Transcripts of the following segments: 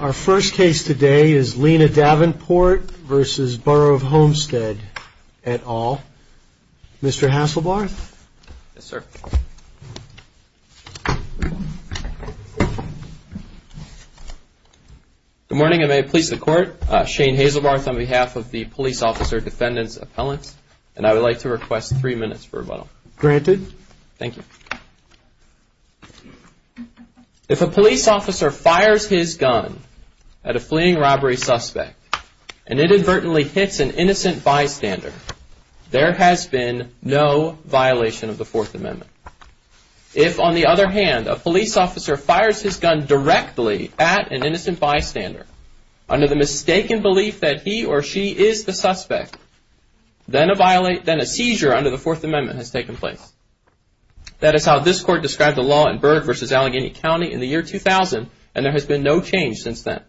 Our first case today is Lena Davenport v. Borough of Homestead et al. Mr. Hasselbarth? Yes, sir. Good morning, and may it please the Court. Shane Hasselbarth on behalf of the Police Officer Defendant's Appellant, and I would like to request three minutes for rebuttal. Granted. Thank you. If a police officer fires his gun at a fleeing robbery suspect and inadvertently hits an innocent bystander, there has been no violation of the Fourth Amendment. If, on the other hand, a police officer fires his gun directly at an innocent bystander under the mistaken belief that he or she is the suspect, then a seizure under the Fourth Amendment has taken place. That is how this Court described the law in Burke v. Allegheny County in the year 2000, and there has been no change since then.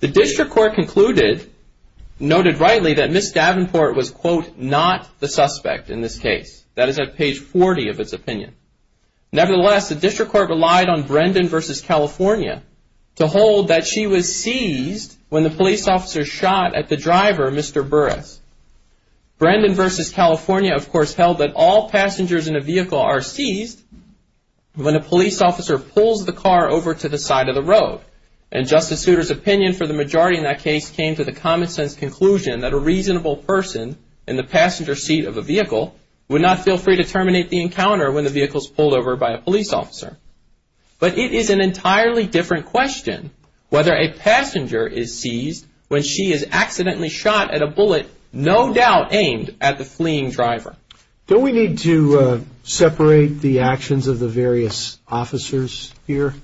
The District Court concluded, noted rightly, that Ms. Davenport was, quote, not the suspect in this case. That is at page 40 of its opinion. Nevertheless, the District Court relied on Brendan v. California to hold that she was seized when the police officer shot at the driver, Mr. Burruss. Brendan v. California, of course, held that all passengers in a vehicle are seized when a police officer pulls the car over to the side of the road. And Justice Souter's opinion for the majority in that case came to the common-sense conclusion that a reasonable person in the passenger seat of a vehicle would not feel free to terminate the encounter when the vehicle is pulled over by a police officer. But it is an entirely different question whether a passenger is seized when she is accidentally shot at a bullet no doubt aimed at the fleeing driver. Don't we need to separate the actions of the various officers here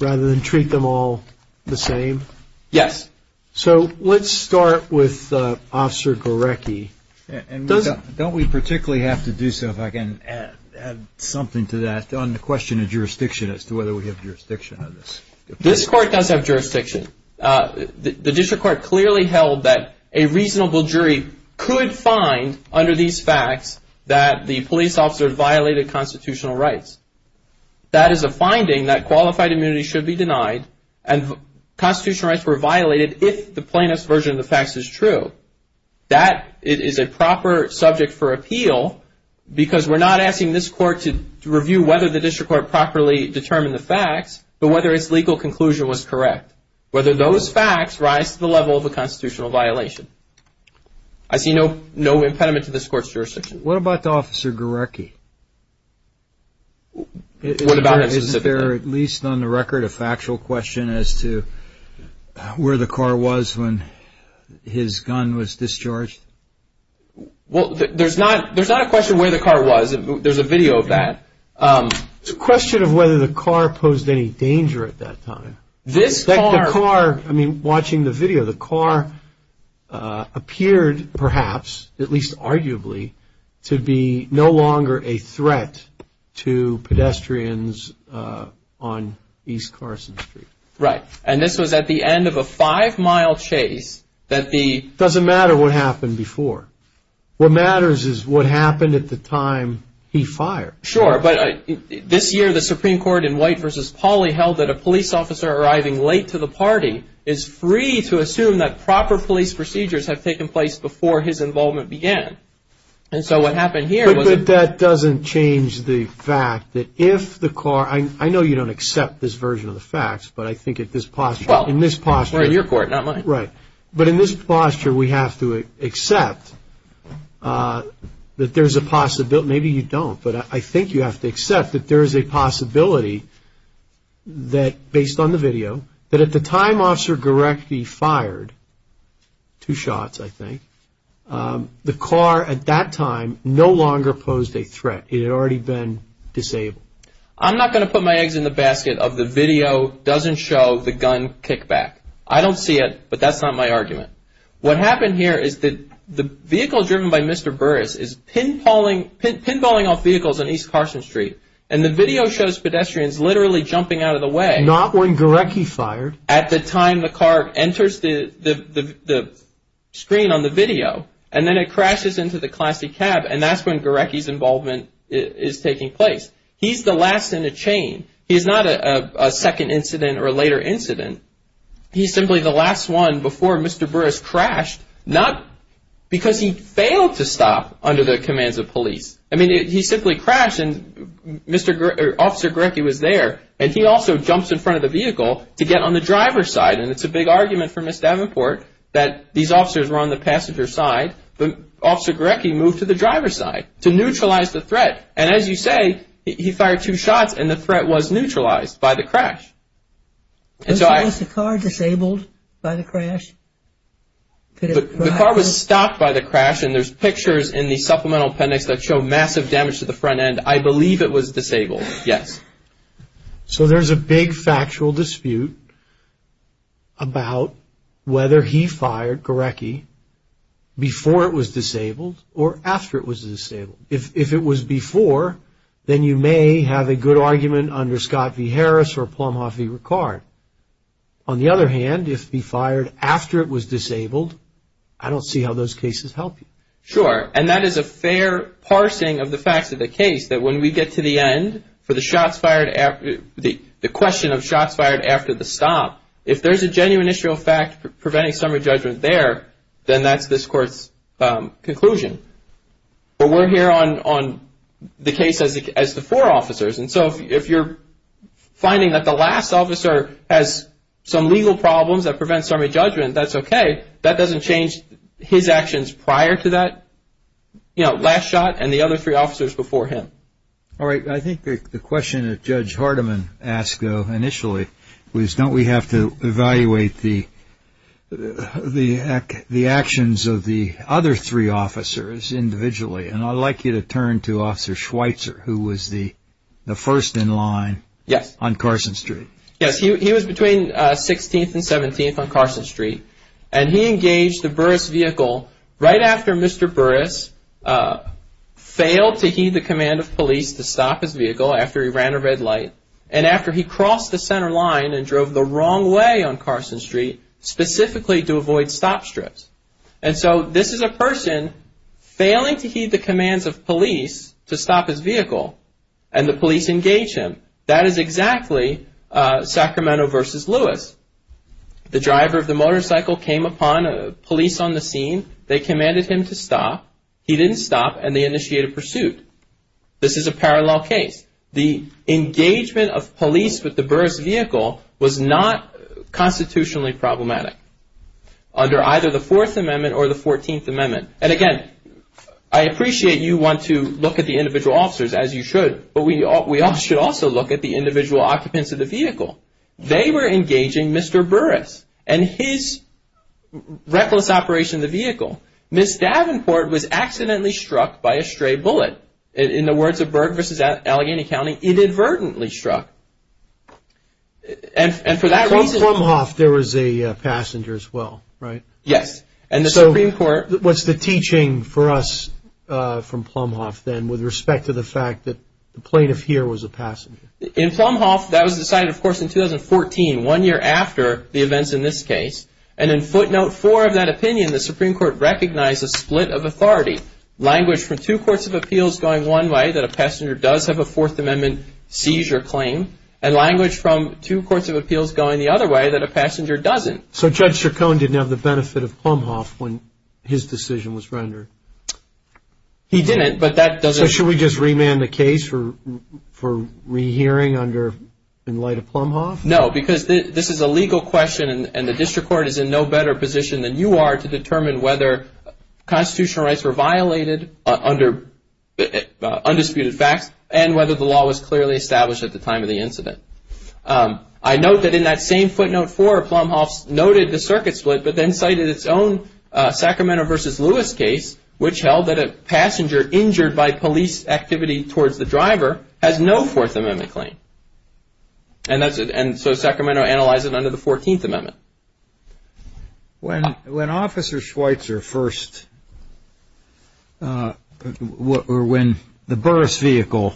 rather than treat them all the same? Yes. So let's start with Officer Gorecki. Don't we particularly have to do so, if I can add something to that, on the question of jurisdiction as to whether we have jurisdiction on this? This Court does have jurisdiction. The District Court clearly held that a reasonable jury could find under these facts that the police officer violated constitutional rights. That is a finding that qualified immunity should be denied and constitutional rights were violated if the plaintiff's version of the facts is true. That is a proper subject for appeal because we're not asking this Court to review whether the District Court properly determined the facts, but whether its legal conclusion was correct, whether those facts rise to the level of a constitutional violation. I see no impediment to this Court's jurisdiction. What about Officer Gorecki? What about him specifically? Is there at least on the record a factual question as to where the car was when his gun was discharged? Well, there's not a question where the car was. There's a video of that. It's a question of whether the car posed any danger at that time. The car, I mean, watching the video, the car appeared perhaps, at least arguably, to be no longer a threat to pedestrians on East Carson Street. Right. And this was at the end of a five-mile chase that the It doesn't matter what happened before. What matters is what happened at the time he fired. Sure, but this year the Supreme Court in White v. Pauley held that a police officer arriving late to the party is free to assume that proper police procedures have taken place before his involvement began. And so what happened here was But that doesn't change the fact that if the car I know you don't accept this version of the facts, but I think in this posture Well, it's your Court, not mine. Right. But in this posture we have to accept that there's a possibility Maybe you don't, but I think you have to accept that there is a possibility that, based on the video, that if the time officer directly fired, two shots I think, the car at that time no longer posed a threat. It had already been disabled. I'm not going to put my eggs in the basket of the video doesn't show the gun kickback. I don't see it, but that's not my argument. What happened here is that the vehicle driven by Mr. Burris is pinballing off vehicles on East Carson Street. And the video shows pedestrians literally jumping out of the way Not when Gorecki fired. At the time the car enters the screen on the video. And then it crashes into the classy cab, and that's when Gorecki's involvement is taking place. He's the last in the chain. He's not a second incident or a later incident. He's simply the last one before Mr. Burris crashed, not because he failed to stop under the commands of police. I mean, he simply crashed and Officer Gorecki was there. And he also jumps in front of the vehicle to get on the driver's side. And it's a big argument for Ms. Davenport that these officers were on the passenger's side. But Officer Gorecki moved to the driver's side to neutralize the threat. And as you say, he fired two shots and the threat was neutralized by the crash. Was the car disabled by the crash? The car was stopped by the crash, and there's pictures in the supplemental appendix that show massive damage to the front end. I believe it was disabled, yes. So there's a big factual dispute about whether he fired Gorecki before it was disabled or after it was disabled. If it was before, then you may have a good argument under Scott v. Harris or Plumhoff v. Ricard. On the other hand, if he fired after it was disabled, I don't see how those cases help you. Sure, and that is a fair parsing of the facts of the case, that when we get to the end, for the question of shots fired after the stop, if there's a genuine issue of fact preventing summary judgment there, then that's this Court's conclusion. But we're here on the case as the four officers, and so if you're finding that the last officer has some legal problems that prevent summary judgment, that's okay. That doesn't change his actions prior to that, you know, last shot and the other three officers before him. All right, I think the question that Judge Hardiman asked initially was, don't we have to evaluate the actions of the other three officers individually? And I'd like you to turn to Officer Schweitzer, who was the first in line on Carson Street. Yes, he was between 16th and 17th on Carson Street, and he engaged the Burris vehicle right after Mr. Burris failed to heed the command of police to stop his vehicle after he ran a red light, and after he crossed the center line and drove the wrong way on Carson Street, specifically to avoid stop strips. And so this is a person failing to heed the commands of police to stop his vehicle, and the police engaged him. That is exactly Sacramento versus Lewis. The driver of the motorcycle came upon police on the scene. They commanded him to stop. He didn't stop, and they initiated a pursuit. This is a parallel case. The engagement of police with the Burris vehicle was not constitutionally problematic under either the Fourth Amendment or the Fourteenth Amendment. And again, I appreciate you want to look at the individual officers, as you should, but we should also look at the individual occupants of the vehicle. They were engaging Mr. Burris and his reckless operation of the vehicle. Ms. Davenport was accidentally struck by a stray bullet. In the words of Berg versus Allegheny County, inadvertently struck. And for that reason... From Plumhoff, there was a passenger as well, right? Yes. And the Supreme Court... So what's the teaching for us from Plumhoff then with respect to the fact that the plaintiff here was a passenger? In Plumhoff, that was decided, of course, in 2014, one year after the events in this case. Language from two courts of appeals going one way, that a passenger does have a Fourth Amendment seizure claim, and language from two courts of appeals going the other way, that a passenger doesn't. So Judge Chacon didn't have the benefit of Plumhoff when his decision was rendered? He didn't, but that doesn't... So should we just remand the case for rehearing in light of Plumhoff? No, because this is a legal question, and the district court is in no better position than you are to determine whether constitutional rights were violated under undisputed facts and whether the law was clearly established at the time of the incident. I note that in that same footnote four, Plumhoff noted the circuit split, but then cited its own Sacramento v. Lewis case, which held that a passenger injured by police activity towards the driver has no Fourth Amendment claim. And so Sacramento analyzed it under the Fourteenth Amendment. When Officer Schweitzer first, or when the Burris vehicle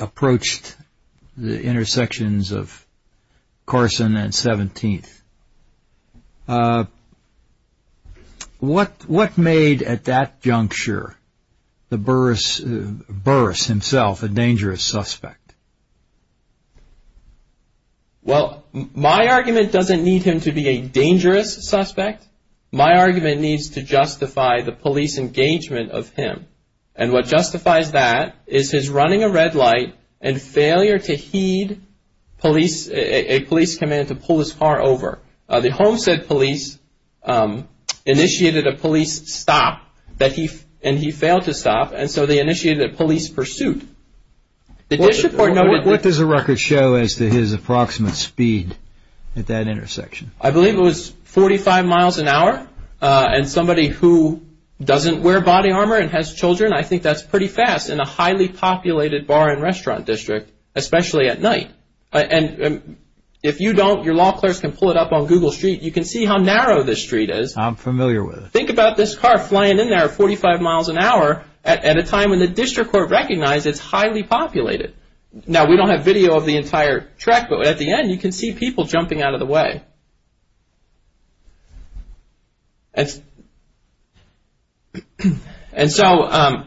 approached the intersections of Carson and 17th, what made at that juncture the Burris himself a dangerous suspect? Well, my argument doesn't need him to be a dangerous suspect. My argument needs to justify the police engagement of him. And what justifies that is his running a red light and failure to heed police, a police command to pull his car over. The Homestead police initiated a police stop, and he failed to stop, and so they initiated a police pursuit. What does the record show as to his approximate speed at that intersection? I believe it was 45 miles an hour. And somebody who doesn't wear body armor and has children, I think that's pretty fast in a highly populated bar and restaurant district, especially at night. And if you don't, your law clerks can pull it up on Google Street. You can see how narrow this street is. I'm familiar with it. Think about this car flying in there at 45 miles an hour at a time when the district court recognizes it's highly populated. Now, we don't have video of the entire track, but at the end you can see people jumping out of the way. And so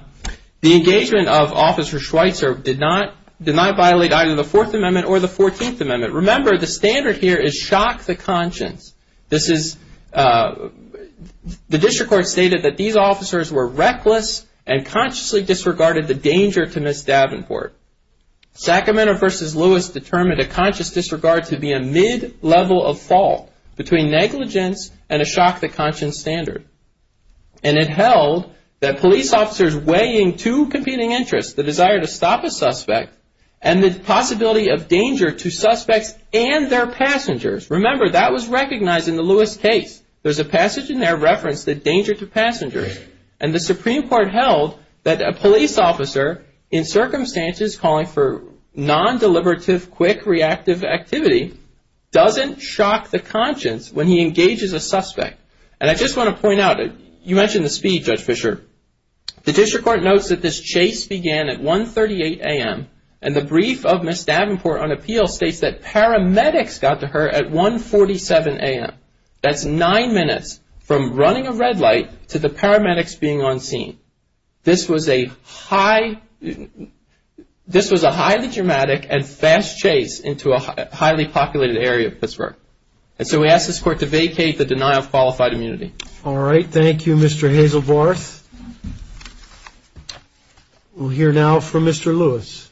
the engagement of Officer Schweitzer did not violate either the Fourth Amendment or the Fourteenth Amendment. Remember, the standard here is shock the conscience. The district court stated that these officers were reckless and consciously disregarded the danger to Ms. Davenport. Sacramento v. Lewis determined a conscious disregard to be a mid-level of fault between negligence and a shock the conscience standard. And it held that police officers weighing two competing interests, the desire to stop a suspect and the possibility of danger to suspects and their passengers. Remember, that was recognized in the Lewis case. There's a passage in there referenced the danger to passengers. And the Supreme Court held that a police officer in circumstances calling for non-deliberative, quick, reactive activity doesn't shock the conscience when he engages a suspect. And I just want to point out, you mentioned the speed, Judge Fischer. The district court notes that this chase began at 1.38 a.m. And the brief of Ms. Davenport on appeal states that paramedics got to her at 1.47 a.m. That's nine minutes from running a red light to the paramedics being on scene. This was a highly dramatic and fast chase into a highly populated area of Pittsburgh. And so we ask this court to vacate the denial of qualified immunity. All right. Thank you, Mr. Hazelbarth. We'll hear now from Mr. Lewis.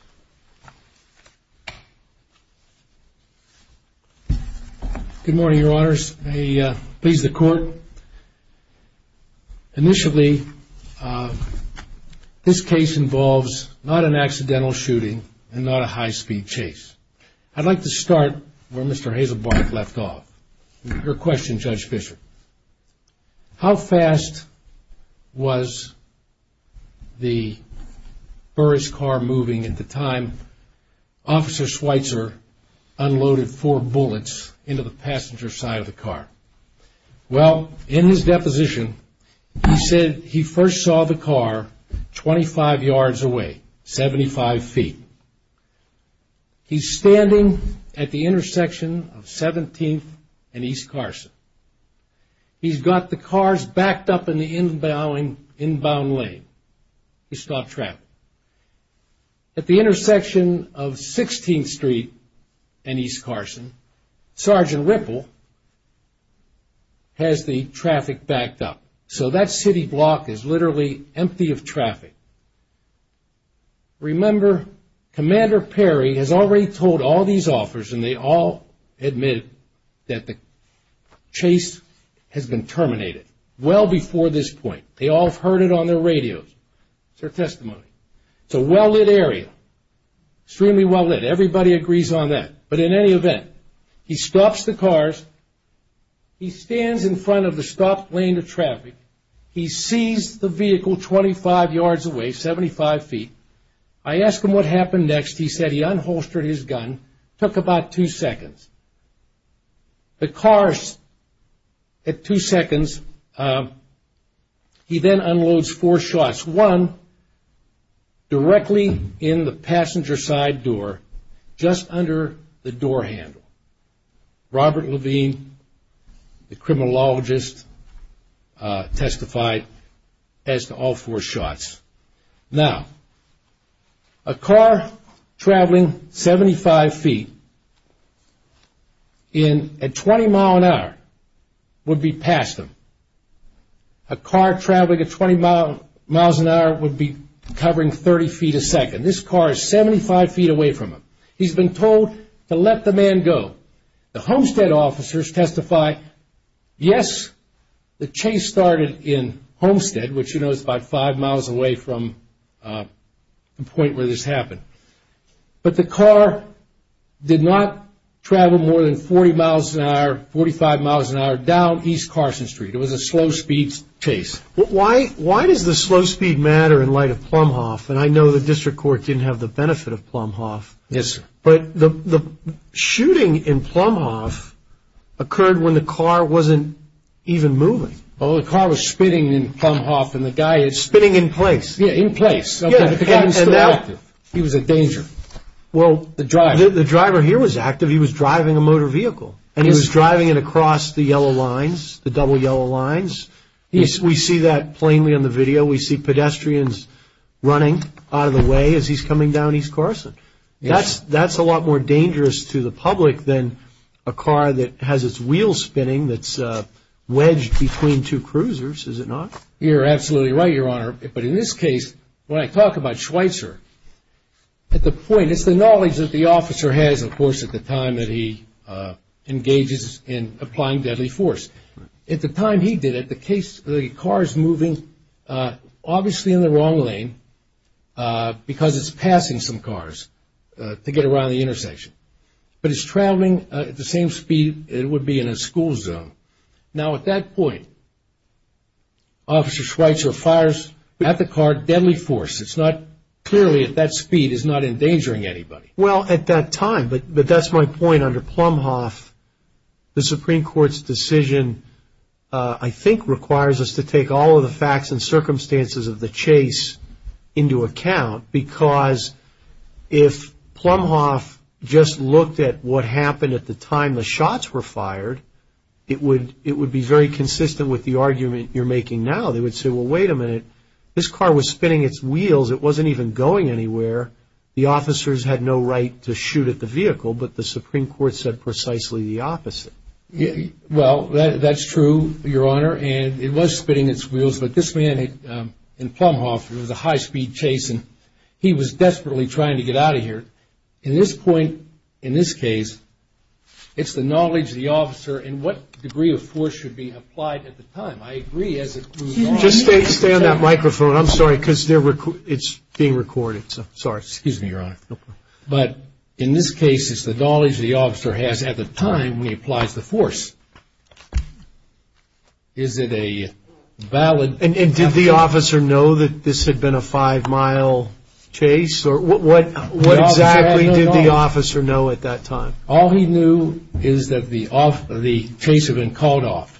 Good morning, Your Honors. May it please the court. Initially, this case involves not an accidental shooting and not a high-speed chase. I'd like to start where Mr. Hazelbarth left off. Your question, Judge Fischer. How fast was the Burris car moving at the time Officer Schweitzer unloaded four bullets into the passenger side of the car? Well, in his deposition, he said he first saw the car 25 yards away, 75 feet. He's standing at the intersection of 17th and East Carson. He's got the cars backed up in the inbound lane. He stopped traffic. At the intersection of 16th Street and East Carson, Sergeant Ripple has the traffic backed up. Remember, Commander Perry has already told all these officers, and they all admit that the chase has been terminated well before this point. They all have heard it on their radios. It's their testimony. It's a well-lit area, extremely well-lit. Everybody agrees on that. But in any event, he stops the cars. He stands in front of the stopped lane of traffic. He sees the vehicle 25 yards away, 75 feet. I ask him what happened next. He said he unholstered his gun, took about two seconds. The cars at two seconds. He then unloads four shots, one directly in the passenger side door, just under the door handle. Robert Levine, the criminologist, testified as to all four shots. Now, a car traveling 75 feet at 20 miles an hour would be past him. A car traveling at 20 miles an hour would be covering 30 feet a second. This car is 75 feet away from him. He's been told to let the man go. The Homestead officers testify, yes, the chase started in Homestead, which you know is about five miles away from the point where this happened. But the car did not travel more than 40 miles an hour, 45 miles an hour, down East Carson Street. It was a slow-speed chase. Why does the slow speed matter in light of Plumhoff? And I know the district court didn't have the benefit of Plumhoff. Yes, sir. But the shooting in Plumhoff occurred when the car wasn't even moving. Well, the car was spinning in Plumhoff, and the guy is- Spinning in place. Yeah, in place. Yeah, and now- He was in danger. Well- The driver. The driver here was active. He was driving a motor vehicle, and he was driving it across the yellow lines, the double yellow lines. We see that plainly on the video. We see pedestrians running out of the way as he's coming down East Carson. That's a lot more dangerous to the public than a car that has its wheels spinning, that's wedged between two cruisers, is it not? You're absolutely right, Your Honor. But in this case, when I talk about Schweitzer, at the point, it's the knowledge that the officer has, of course, at the time that he engages in applying deadly force. At the time he did it, the car is moving, obviously, in the wrong lane because it's passing some cars to get around the intersection. But it's traveling at the same speed it would be in a school zone. Now, at that point, Officer Schweitzer fires at the car deadly force. It's not-clearly, at that speed, it's not endangering anybody. Well, at that time, but that's my point. Under Plumhoff, the Supreme Court's decision, I think, requires us to take all of the facts and circumstances of the chase into account because if Plumhoff just looked at what happened at the time the shots were fired, it would be very consistent with the argument you're making now. They would say, well, wait a minute. This car was spinning its wheels. It wasn't even going anywhere. The officers had no right to shoot at the vehicle, but the Supreme Court said precisely the opposite. Well, that's true, Your Honor, and it was spinning its wheels. But this man in Plumhoff, it was a high-speed chase, and he was desperately trying to get out of here. At this point, in this case, it's the knowledge of the officer and what degree of force should be applied at the time. I agree as it proves wrong. Just stay on that microphone. I'm sorry, because it's being recorded, so sorry. Excuse me, Your Honor. No problem. But in this case, it's the knowledge the officer has at the time when he applies the force. Is it a valid? And did the officer know that this had been a five-mile chase? What exactly did the officer know at that time? All he knew is that the chase had been called off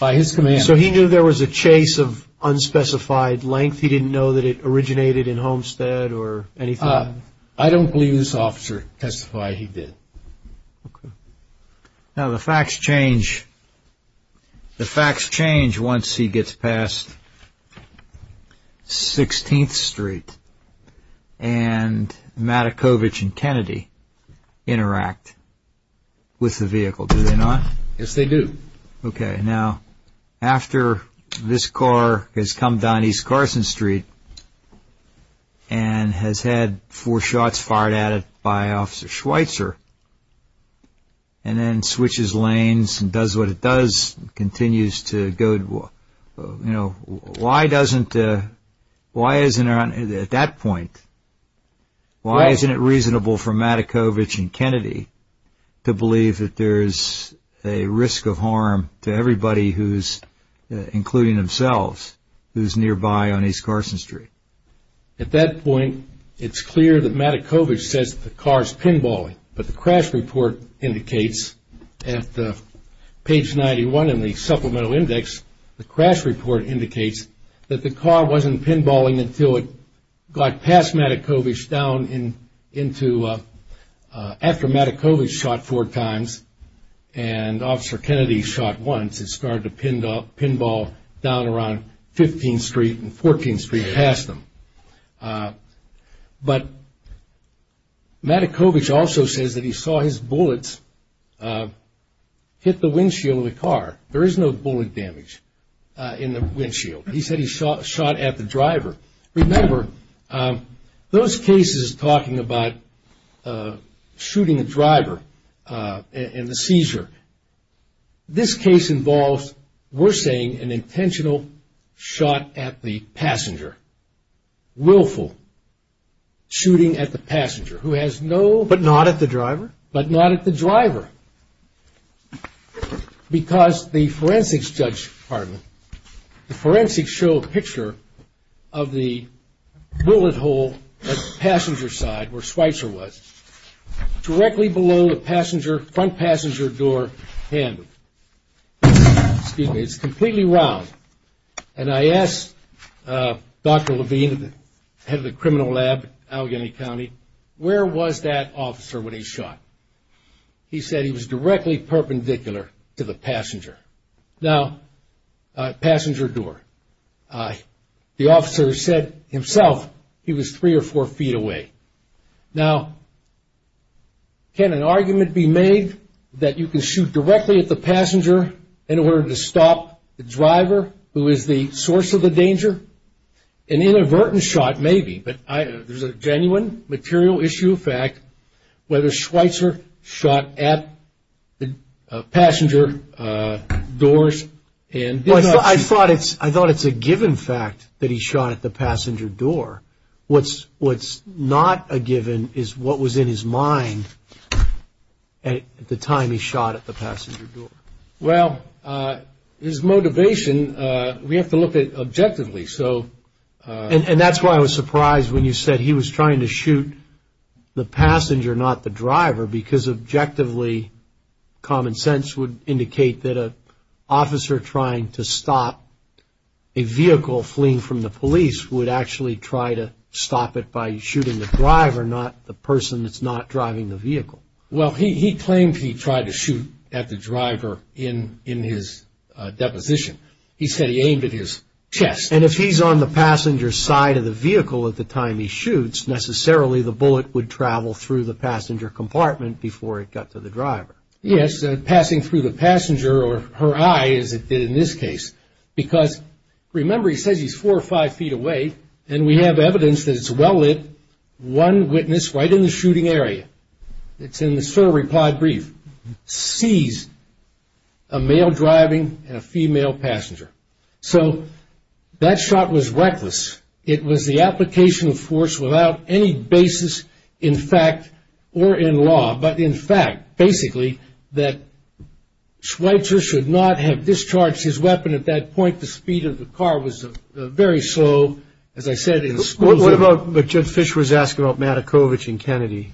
by his commander. So he knew there was a chase of unspecified length. He didn't know that it originated in Homestead or anything? I don't believe this officer testified he did. Okay. Now, the facts change. The facts change once he gets past 16th Street and Madakovich and Kennedy interact with the vehicle, do they not? Yes, they do. Okay. Now, after this car has come down East Carson Street and has had four shots fired at it by Officer Schweitzer and then switches lanes and does what it does and continues to go, you know, why isn't it reasonable for Madakovich and Kennedy to believe that there's a risk of harm to everybody who's, including themselves, who's nearby on East Carson Street? At that point, it's clear that Madakovich says the car's pinballing, but the crash report indicates at page 91 in the supplemental index, the crash report indicates that the car wasn't pinballing until it got past Madakovich down into after Madakovich shot four times and Officer Kennedy shot once. It started to pinball down around 15th Street and 14th Street past them. But Madakovich also says that he saw his bullets hit the windshield of the car. There is no bullet damage in the windshield. He said he shot at the driver. Remember, those cases talking about shooting a driver and the seizure, this case involves, we're saying, an intentional shot at the passenger, willful shooting at the passenger, who has no- But not at the driver? But not at the driver. Because the forensics show a picture of the bullet hole at the passenger side, where Schweitzer was, directly below the front passenger door handle. It's completely round. And I asked Dr. Levine, head of the criminal lab at Allegheny County, where was that officer when he shot? He said he was directly perpendicular to the passenger door. The officer said himself he was three or four feet away. Now, can an argument be made that you can shoot directly at the passenger in order to stop the driver, who is the source of the danger? An inadvertent shot, maybe, but there's a genuine material issue of fact. Whether Schweitzer shot at the passenger doors and- I thought it's a given fact that he shot at the passenger door. What's not a given is what was in his mind at the time he shot at the passenger door. Well, his motivation, we have to look at it objectively. And that's why I was surprised when you said he was trying to shoot the passenger, not the driver, because objectively, common sense would indicate that an officer trying to stop a vehicle fleeing from the police would actually try to stop it by shooting the driver, not the person that's not driving the vehicle. Well, he claimed he tried to shoot at the driver in his deposition. He said he aimed at his chest. And if he's on the passenger's side of the vehicle at the time he shoots, necessarily the bullet would travel through the passenger compartment before it got to the driver. Yes, passing through the passenger or her eye, as it did in this case. Because, remember, he says he's four or five feet away, and we have evidence that it's well lit. One witness right in the shooting area, it's in the survey plied brief, sees a male driving and a female passenger. So that shot was reckless. It was the application of force without any basis in fact or in law, but in fact, basically, that Schweitzer should not have discharged his weapon at that point. The speed of the car was very slow, as I said, in schools. What about what Judge Fischer was asking about Matakovich and Kennedy?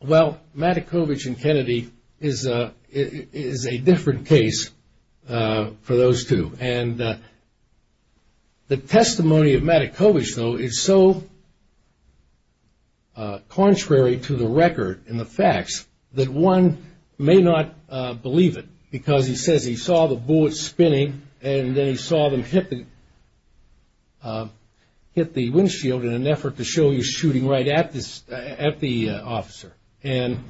Well, Matakovich and Kennedy is a different case for those two. And the testimony of Matakovich, though, is so contrary to the record and the facts that one may not believe it because he says he saw the bullets spinning and then he saw them hit the windshield in an effort to show he was shooting right at the officer. And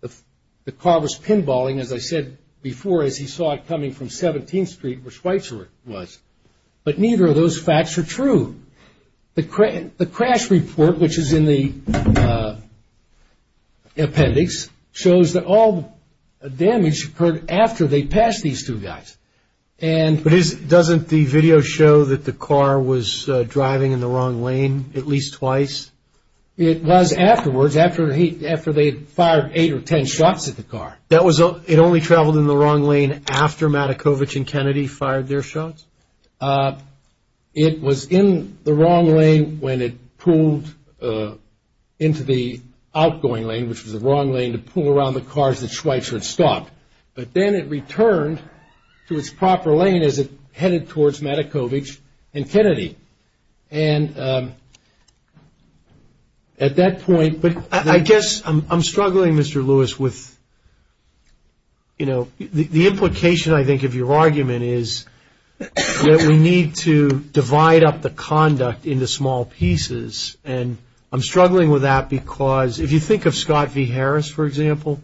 the car was pinballing, as I said before, as he saw it coming from 17th Street, where Schweitzer was. But neither of those facts are true. The crash report, which is in the appendix, shows that all the damage occurred after they passed these two guys. But doesn't the video show that the car was driving in the wrong lane at least twice? It was afterwards, after they had fired eight or ten shots at the car. It only traveled in the wrong lane after Matakovich and Kennedy fired their shots? It was in the wrong lane when it pulled into the outgoing lane, which was the wrong lane to pull around the cars that Schweitzer had stopped. But then it returned to its proper lane as it headed towards Matakovich and Kennedy. And at that point – I guess I'm struggling, Mr. Lewis, with – the implication, I think, of your argument is that we need to divide up the conduct into small pieces. And I'm struggling with that because if you think of Scott v. Harris, for example,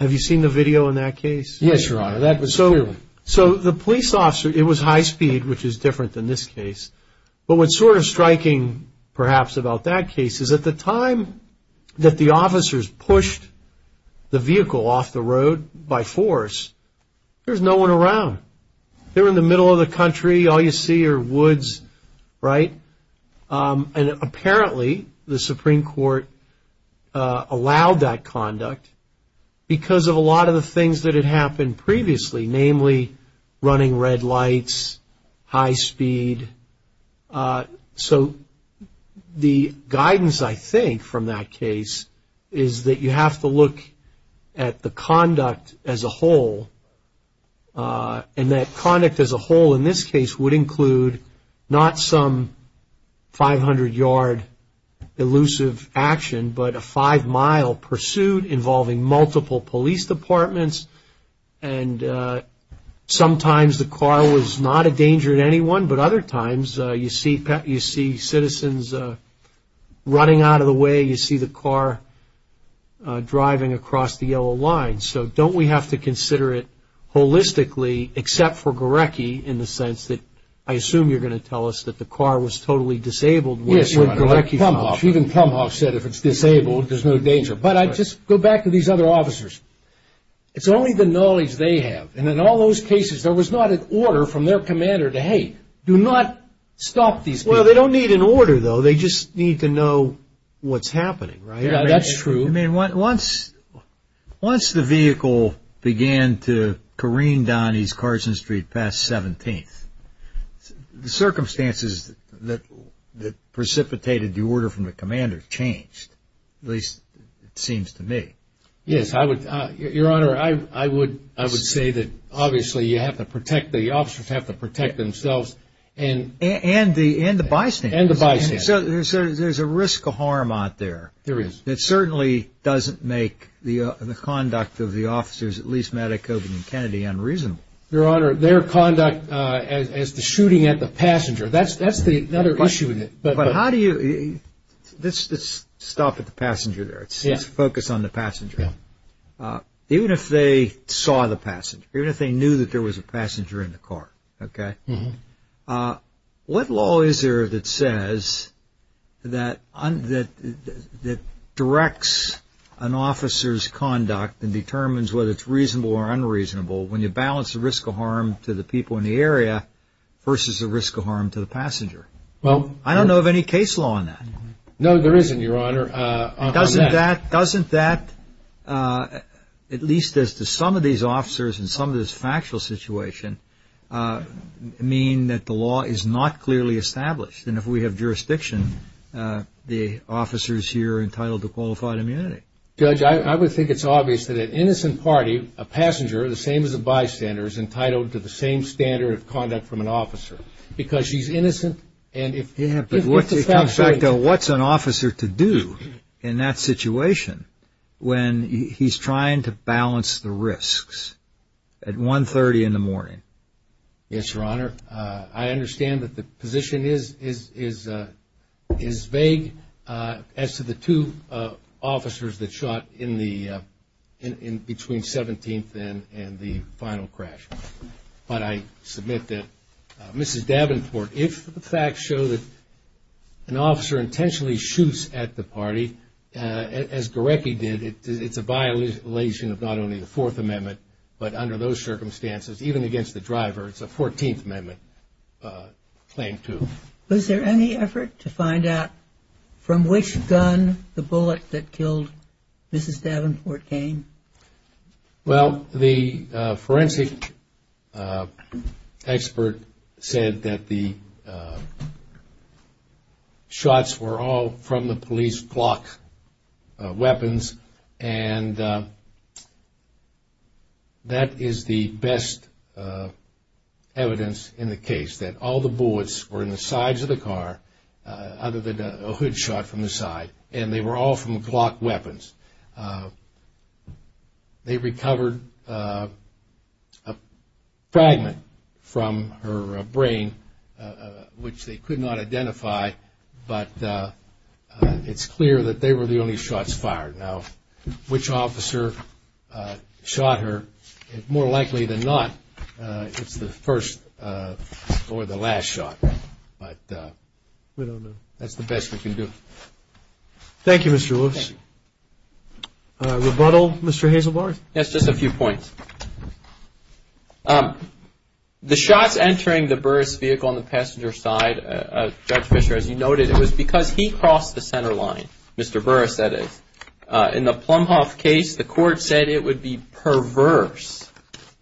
have you seen the video in that case? Yes, Your Honor. So the police officer – it was high speed, which is different than this case. But what's sort of striking, perhaps, about that case is at the time that the officers pushed the vehicle off the road by force, there's no one around. They're in the middle of the country. All you see are woods, right? And apparently the Supreme Court allowed that conduct because of a lot of the things that had happened previously, namely running red lights, high speed. So the guidance, I think, from that case is that you have to look at the conduct as a whole. And that conduct as a whole in this case would include not some 500-yard elusive action, but a five-mile pursuit involving multiple police departments. And sometimes the car was not a danger to anyone, but other times you see citizens running out of the way, you see the car driving across the yellow line. So don't we have to consider it holistically, except for Gorecki, in the sense that I assume you're going to tell us that the car was totally disabled. Yes, Your Honor. Even Plumhoff said if it's disabled, there's no danger. But I just go back to these other officers. It's only the knowledge they have. And in all those cases, there was not an order from their commander to, hey, do not stop these people. Well, they don't need an order, though. They just need to know what's happening, right? Yeah, that's true. I mean, once the vehicle began to careen down East Carson Street past 17th, the circumstances that precipitated the order from the commander changed, at least it seems to me. Yes. Your Honor, I would say that obviously you have to protect the officers, have to protect themselves. And the bystanders. And the bystanders. So there's a risk of harm out there. There is. It certainly doesn't make the conduct of the officers, at least Maddock, Coburn and Kennedy, unreasonable. Your Honor, their conduct as to shooting at the passenger, that's the other issue with it. But how do you – let's stop at the passenger there. Let's focus on the passenger. Even if they saw the passenger, even if they knew that there was a passenger in the car, okay, what law is there that says that directs an officer's conduct and determines whether it's reasonable or unreasonable when you balance the risk of harm to the people in the area versus the risk of harm to the passenger? I don't know of any case law on that. No, there isn't, Your Honor. Doesn't that, at least as to some of these officers in some of this factual situation, mean that the law is not clearly established? And if we have jurisdiction, the officers here are entitled to qualified immunity. Judge, I would think it's obvious that an innocent party, a passenger, the same as a bystander, is entitled to the same standard of conduct from an officer because she's innocent. Yeah, but what's an officer to do in that situation when he's trying to balance the risks at 1.30 in the morning? Yes, Your Honor. I understand that the position is vague as to the two officers that shot in between 17th and the final crash. But I submit that Mrs. Davenport, if the facts show that an officer intentionally shoots at the party, as Gorecki did, it's a violation of not only the Fourth Amendment, but under those circumstances, even against the driver, it's a 14th Amendment claim, too. Was there any effort to find out from which gun the bullet that killed Mrs. Davenport came? Well, the forensic expert said that the shots were all from the police clock weapons, and that is the best evidence in the case, that all the bullets were in the sides of the car other than a hood shot from the side, and they were all from clock weapons. They recovered a fragment from her brain, which they could not identify, but it's clear that they were the only shots fired. Now, which officer shot her? More likely than not, it's the first or the last shot, but we don't know. That's the best we can do. Thank you, Mr. Lewis. Rebuttal, Mr. Hazelbarth? Yes, just a few points. The shots entering the Burris vehicle on the passenger side, Judge Fischer, as you noted, it was because he crossed the center line. Mr. Burris said it. In the Plumhoff case, the court said it would be perverse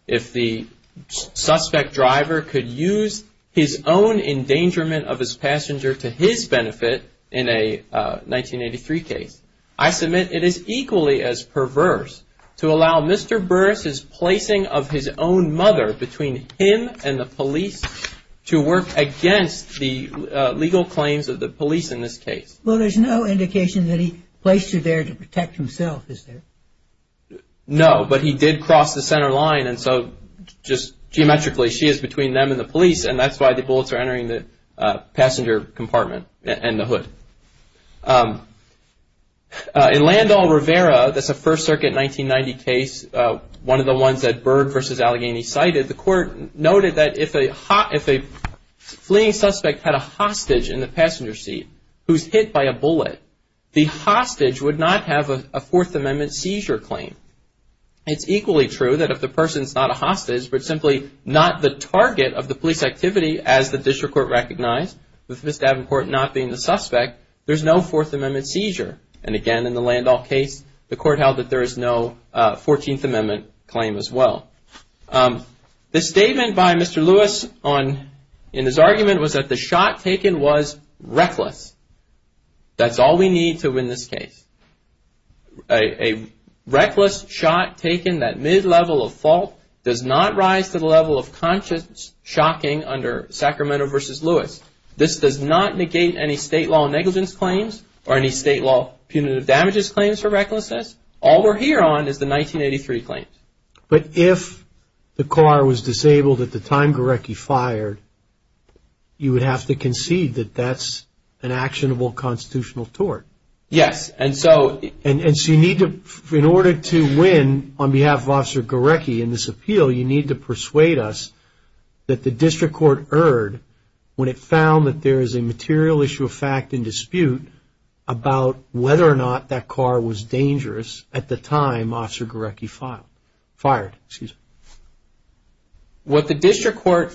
if the suspect driver could use his own endangerment of his passenger to his benefit in a 1983 case. I submit it is equally as perverse to allow Mr. Burris's placing of his own mother between him and the police to work against the legal claims of the police in this case. Well, there's no indication that he placed her there to protect himself, is there? No, but he did cross the center line, and so just geometrically, she is between them and the police, and that's why the bullets are entering the passenger compartment and the hood. In Landall Rivera, that's a First Circuit 1990 case, one of the ones that Berg v. Allegheny cited, the court noted that if a fleeing suspect had a hostage in the passenger seat who's hit by a bullet, the hostage would not have a Fourth Amendment seizure claim. It's equally true that if the person's not a hostage but simply not the target of the police activity, as the district court recognized, with Mr. Davenport not being the suspect, there's no Fourth Amendment seizure. And again, in the Landall case, the court held that there is no Fourteenth Amendment claim as well. The statement by Mr. Lewis in his argument was that the shot taken was reckless. That's all we need to win this case. A reckless shot taken at mid-level of fault does not rise to the level of conscious shocking under Sacramento v. Lewis. This does not negate any state law negligence claims or any state law punitive damages claims for recklessness. All we're here on is the 1983 claims. But if the car was disabled at the time Gorecki fired, you would have to concede that that's an actionable constitutional tort. Yes, and so... And so you need to, in order to win on behalf of Officer Gorecki in this appeal, you need to persuade us that the district court erred when it found that there is a material issue of fact in dispute about whether or not that car was dangerous at the time Officer Gorecki fired. What the district court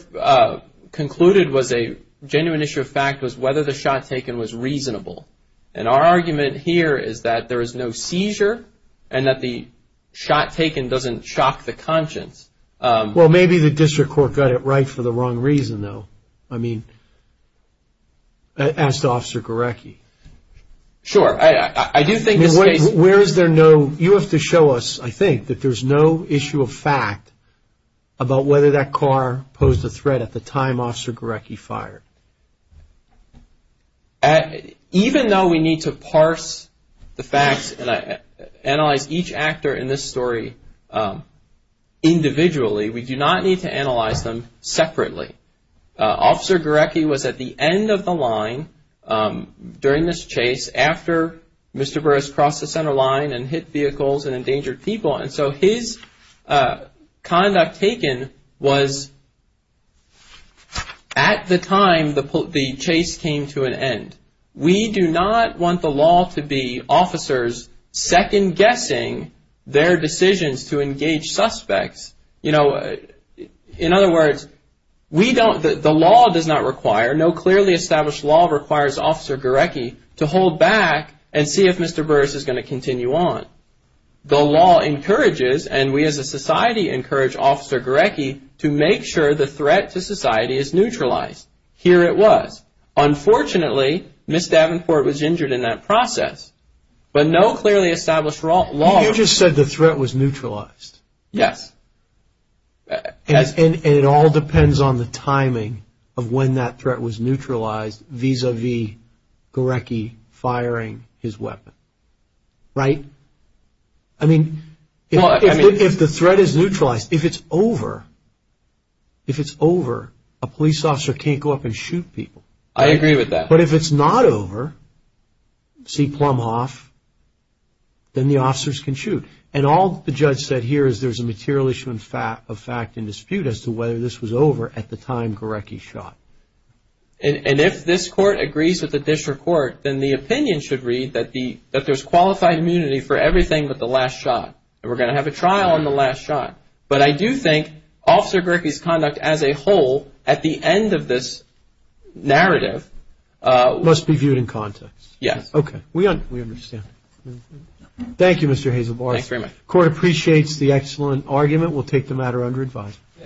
concluded was a genuine issue of fact was whether the shot taken was reasonable. And our argument here is that there is no seizure and that the shot taken doesn't shock the conscience. Well, maybe the district court got it right for the wrong reason, though. I mean, as to Officer Gorecki. Sure, I do think this case... Where is there no... You have to show us, I think, that there's no issue of fact about whether that car posed a threat at the time Officer Gorecki fired. Even though we need to parse the facts and analyze each actor in this story individually, we do not need to analyze them separately. Officer Gorecki was at the end of the line during this chase after Mr. Burris crossed the center line and hit vehicles and endangered people. And so his conduct taken was at the time the chase came to an end. We do not want the law to be officers second guessing their decisions to engage suspects. You know, in other words, we don't... The law does not require... No clearly established law requires Officer Gorecki to hold back and see if Mr. Burris is going to continue on. The law encourages, and we as a society encourage Officer Gorecki to make sure the threat to society is neutralized. Here it was. Unfortunately, Ms. Davenport was injured in that process. But no clearly established law... You just said the threat was neutralized. Yes. And it all depends on the timing of when that threat was neutralized vis-a-vis Gorecki firing his weapon. Right? I mean, if the threat is neutralized, if it's over, if it's over, a police officer can't go up and shoot people. I agree with that. But if it's not over, see Plumhoff, then the officers can shoot. And all the judge said here is there's a material issue of fact and dispute as to whether this was over at the time Gorecki shot. And if this court agrees with the district court, then the opinion should read that there's qualified immunity for everything but the last shot. And we're going to have a trial on the last shot. But I do think Officer Gorecki's conduct as a whole at the end of this narrative... Must be viewed in context. Yes. Okay. We understand. Thank you, Mr. Hazelbarth. Thanks very much. Court appreciates the excellent argument. We'll take the matter under advisement.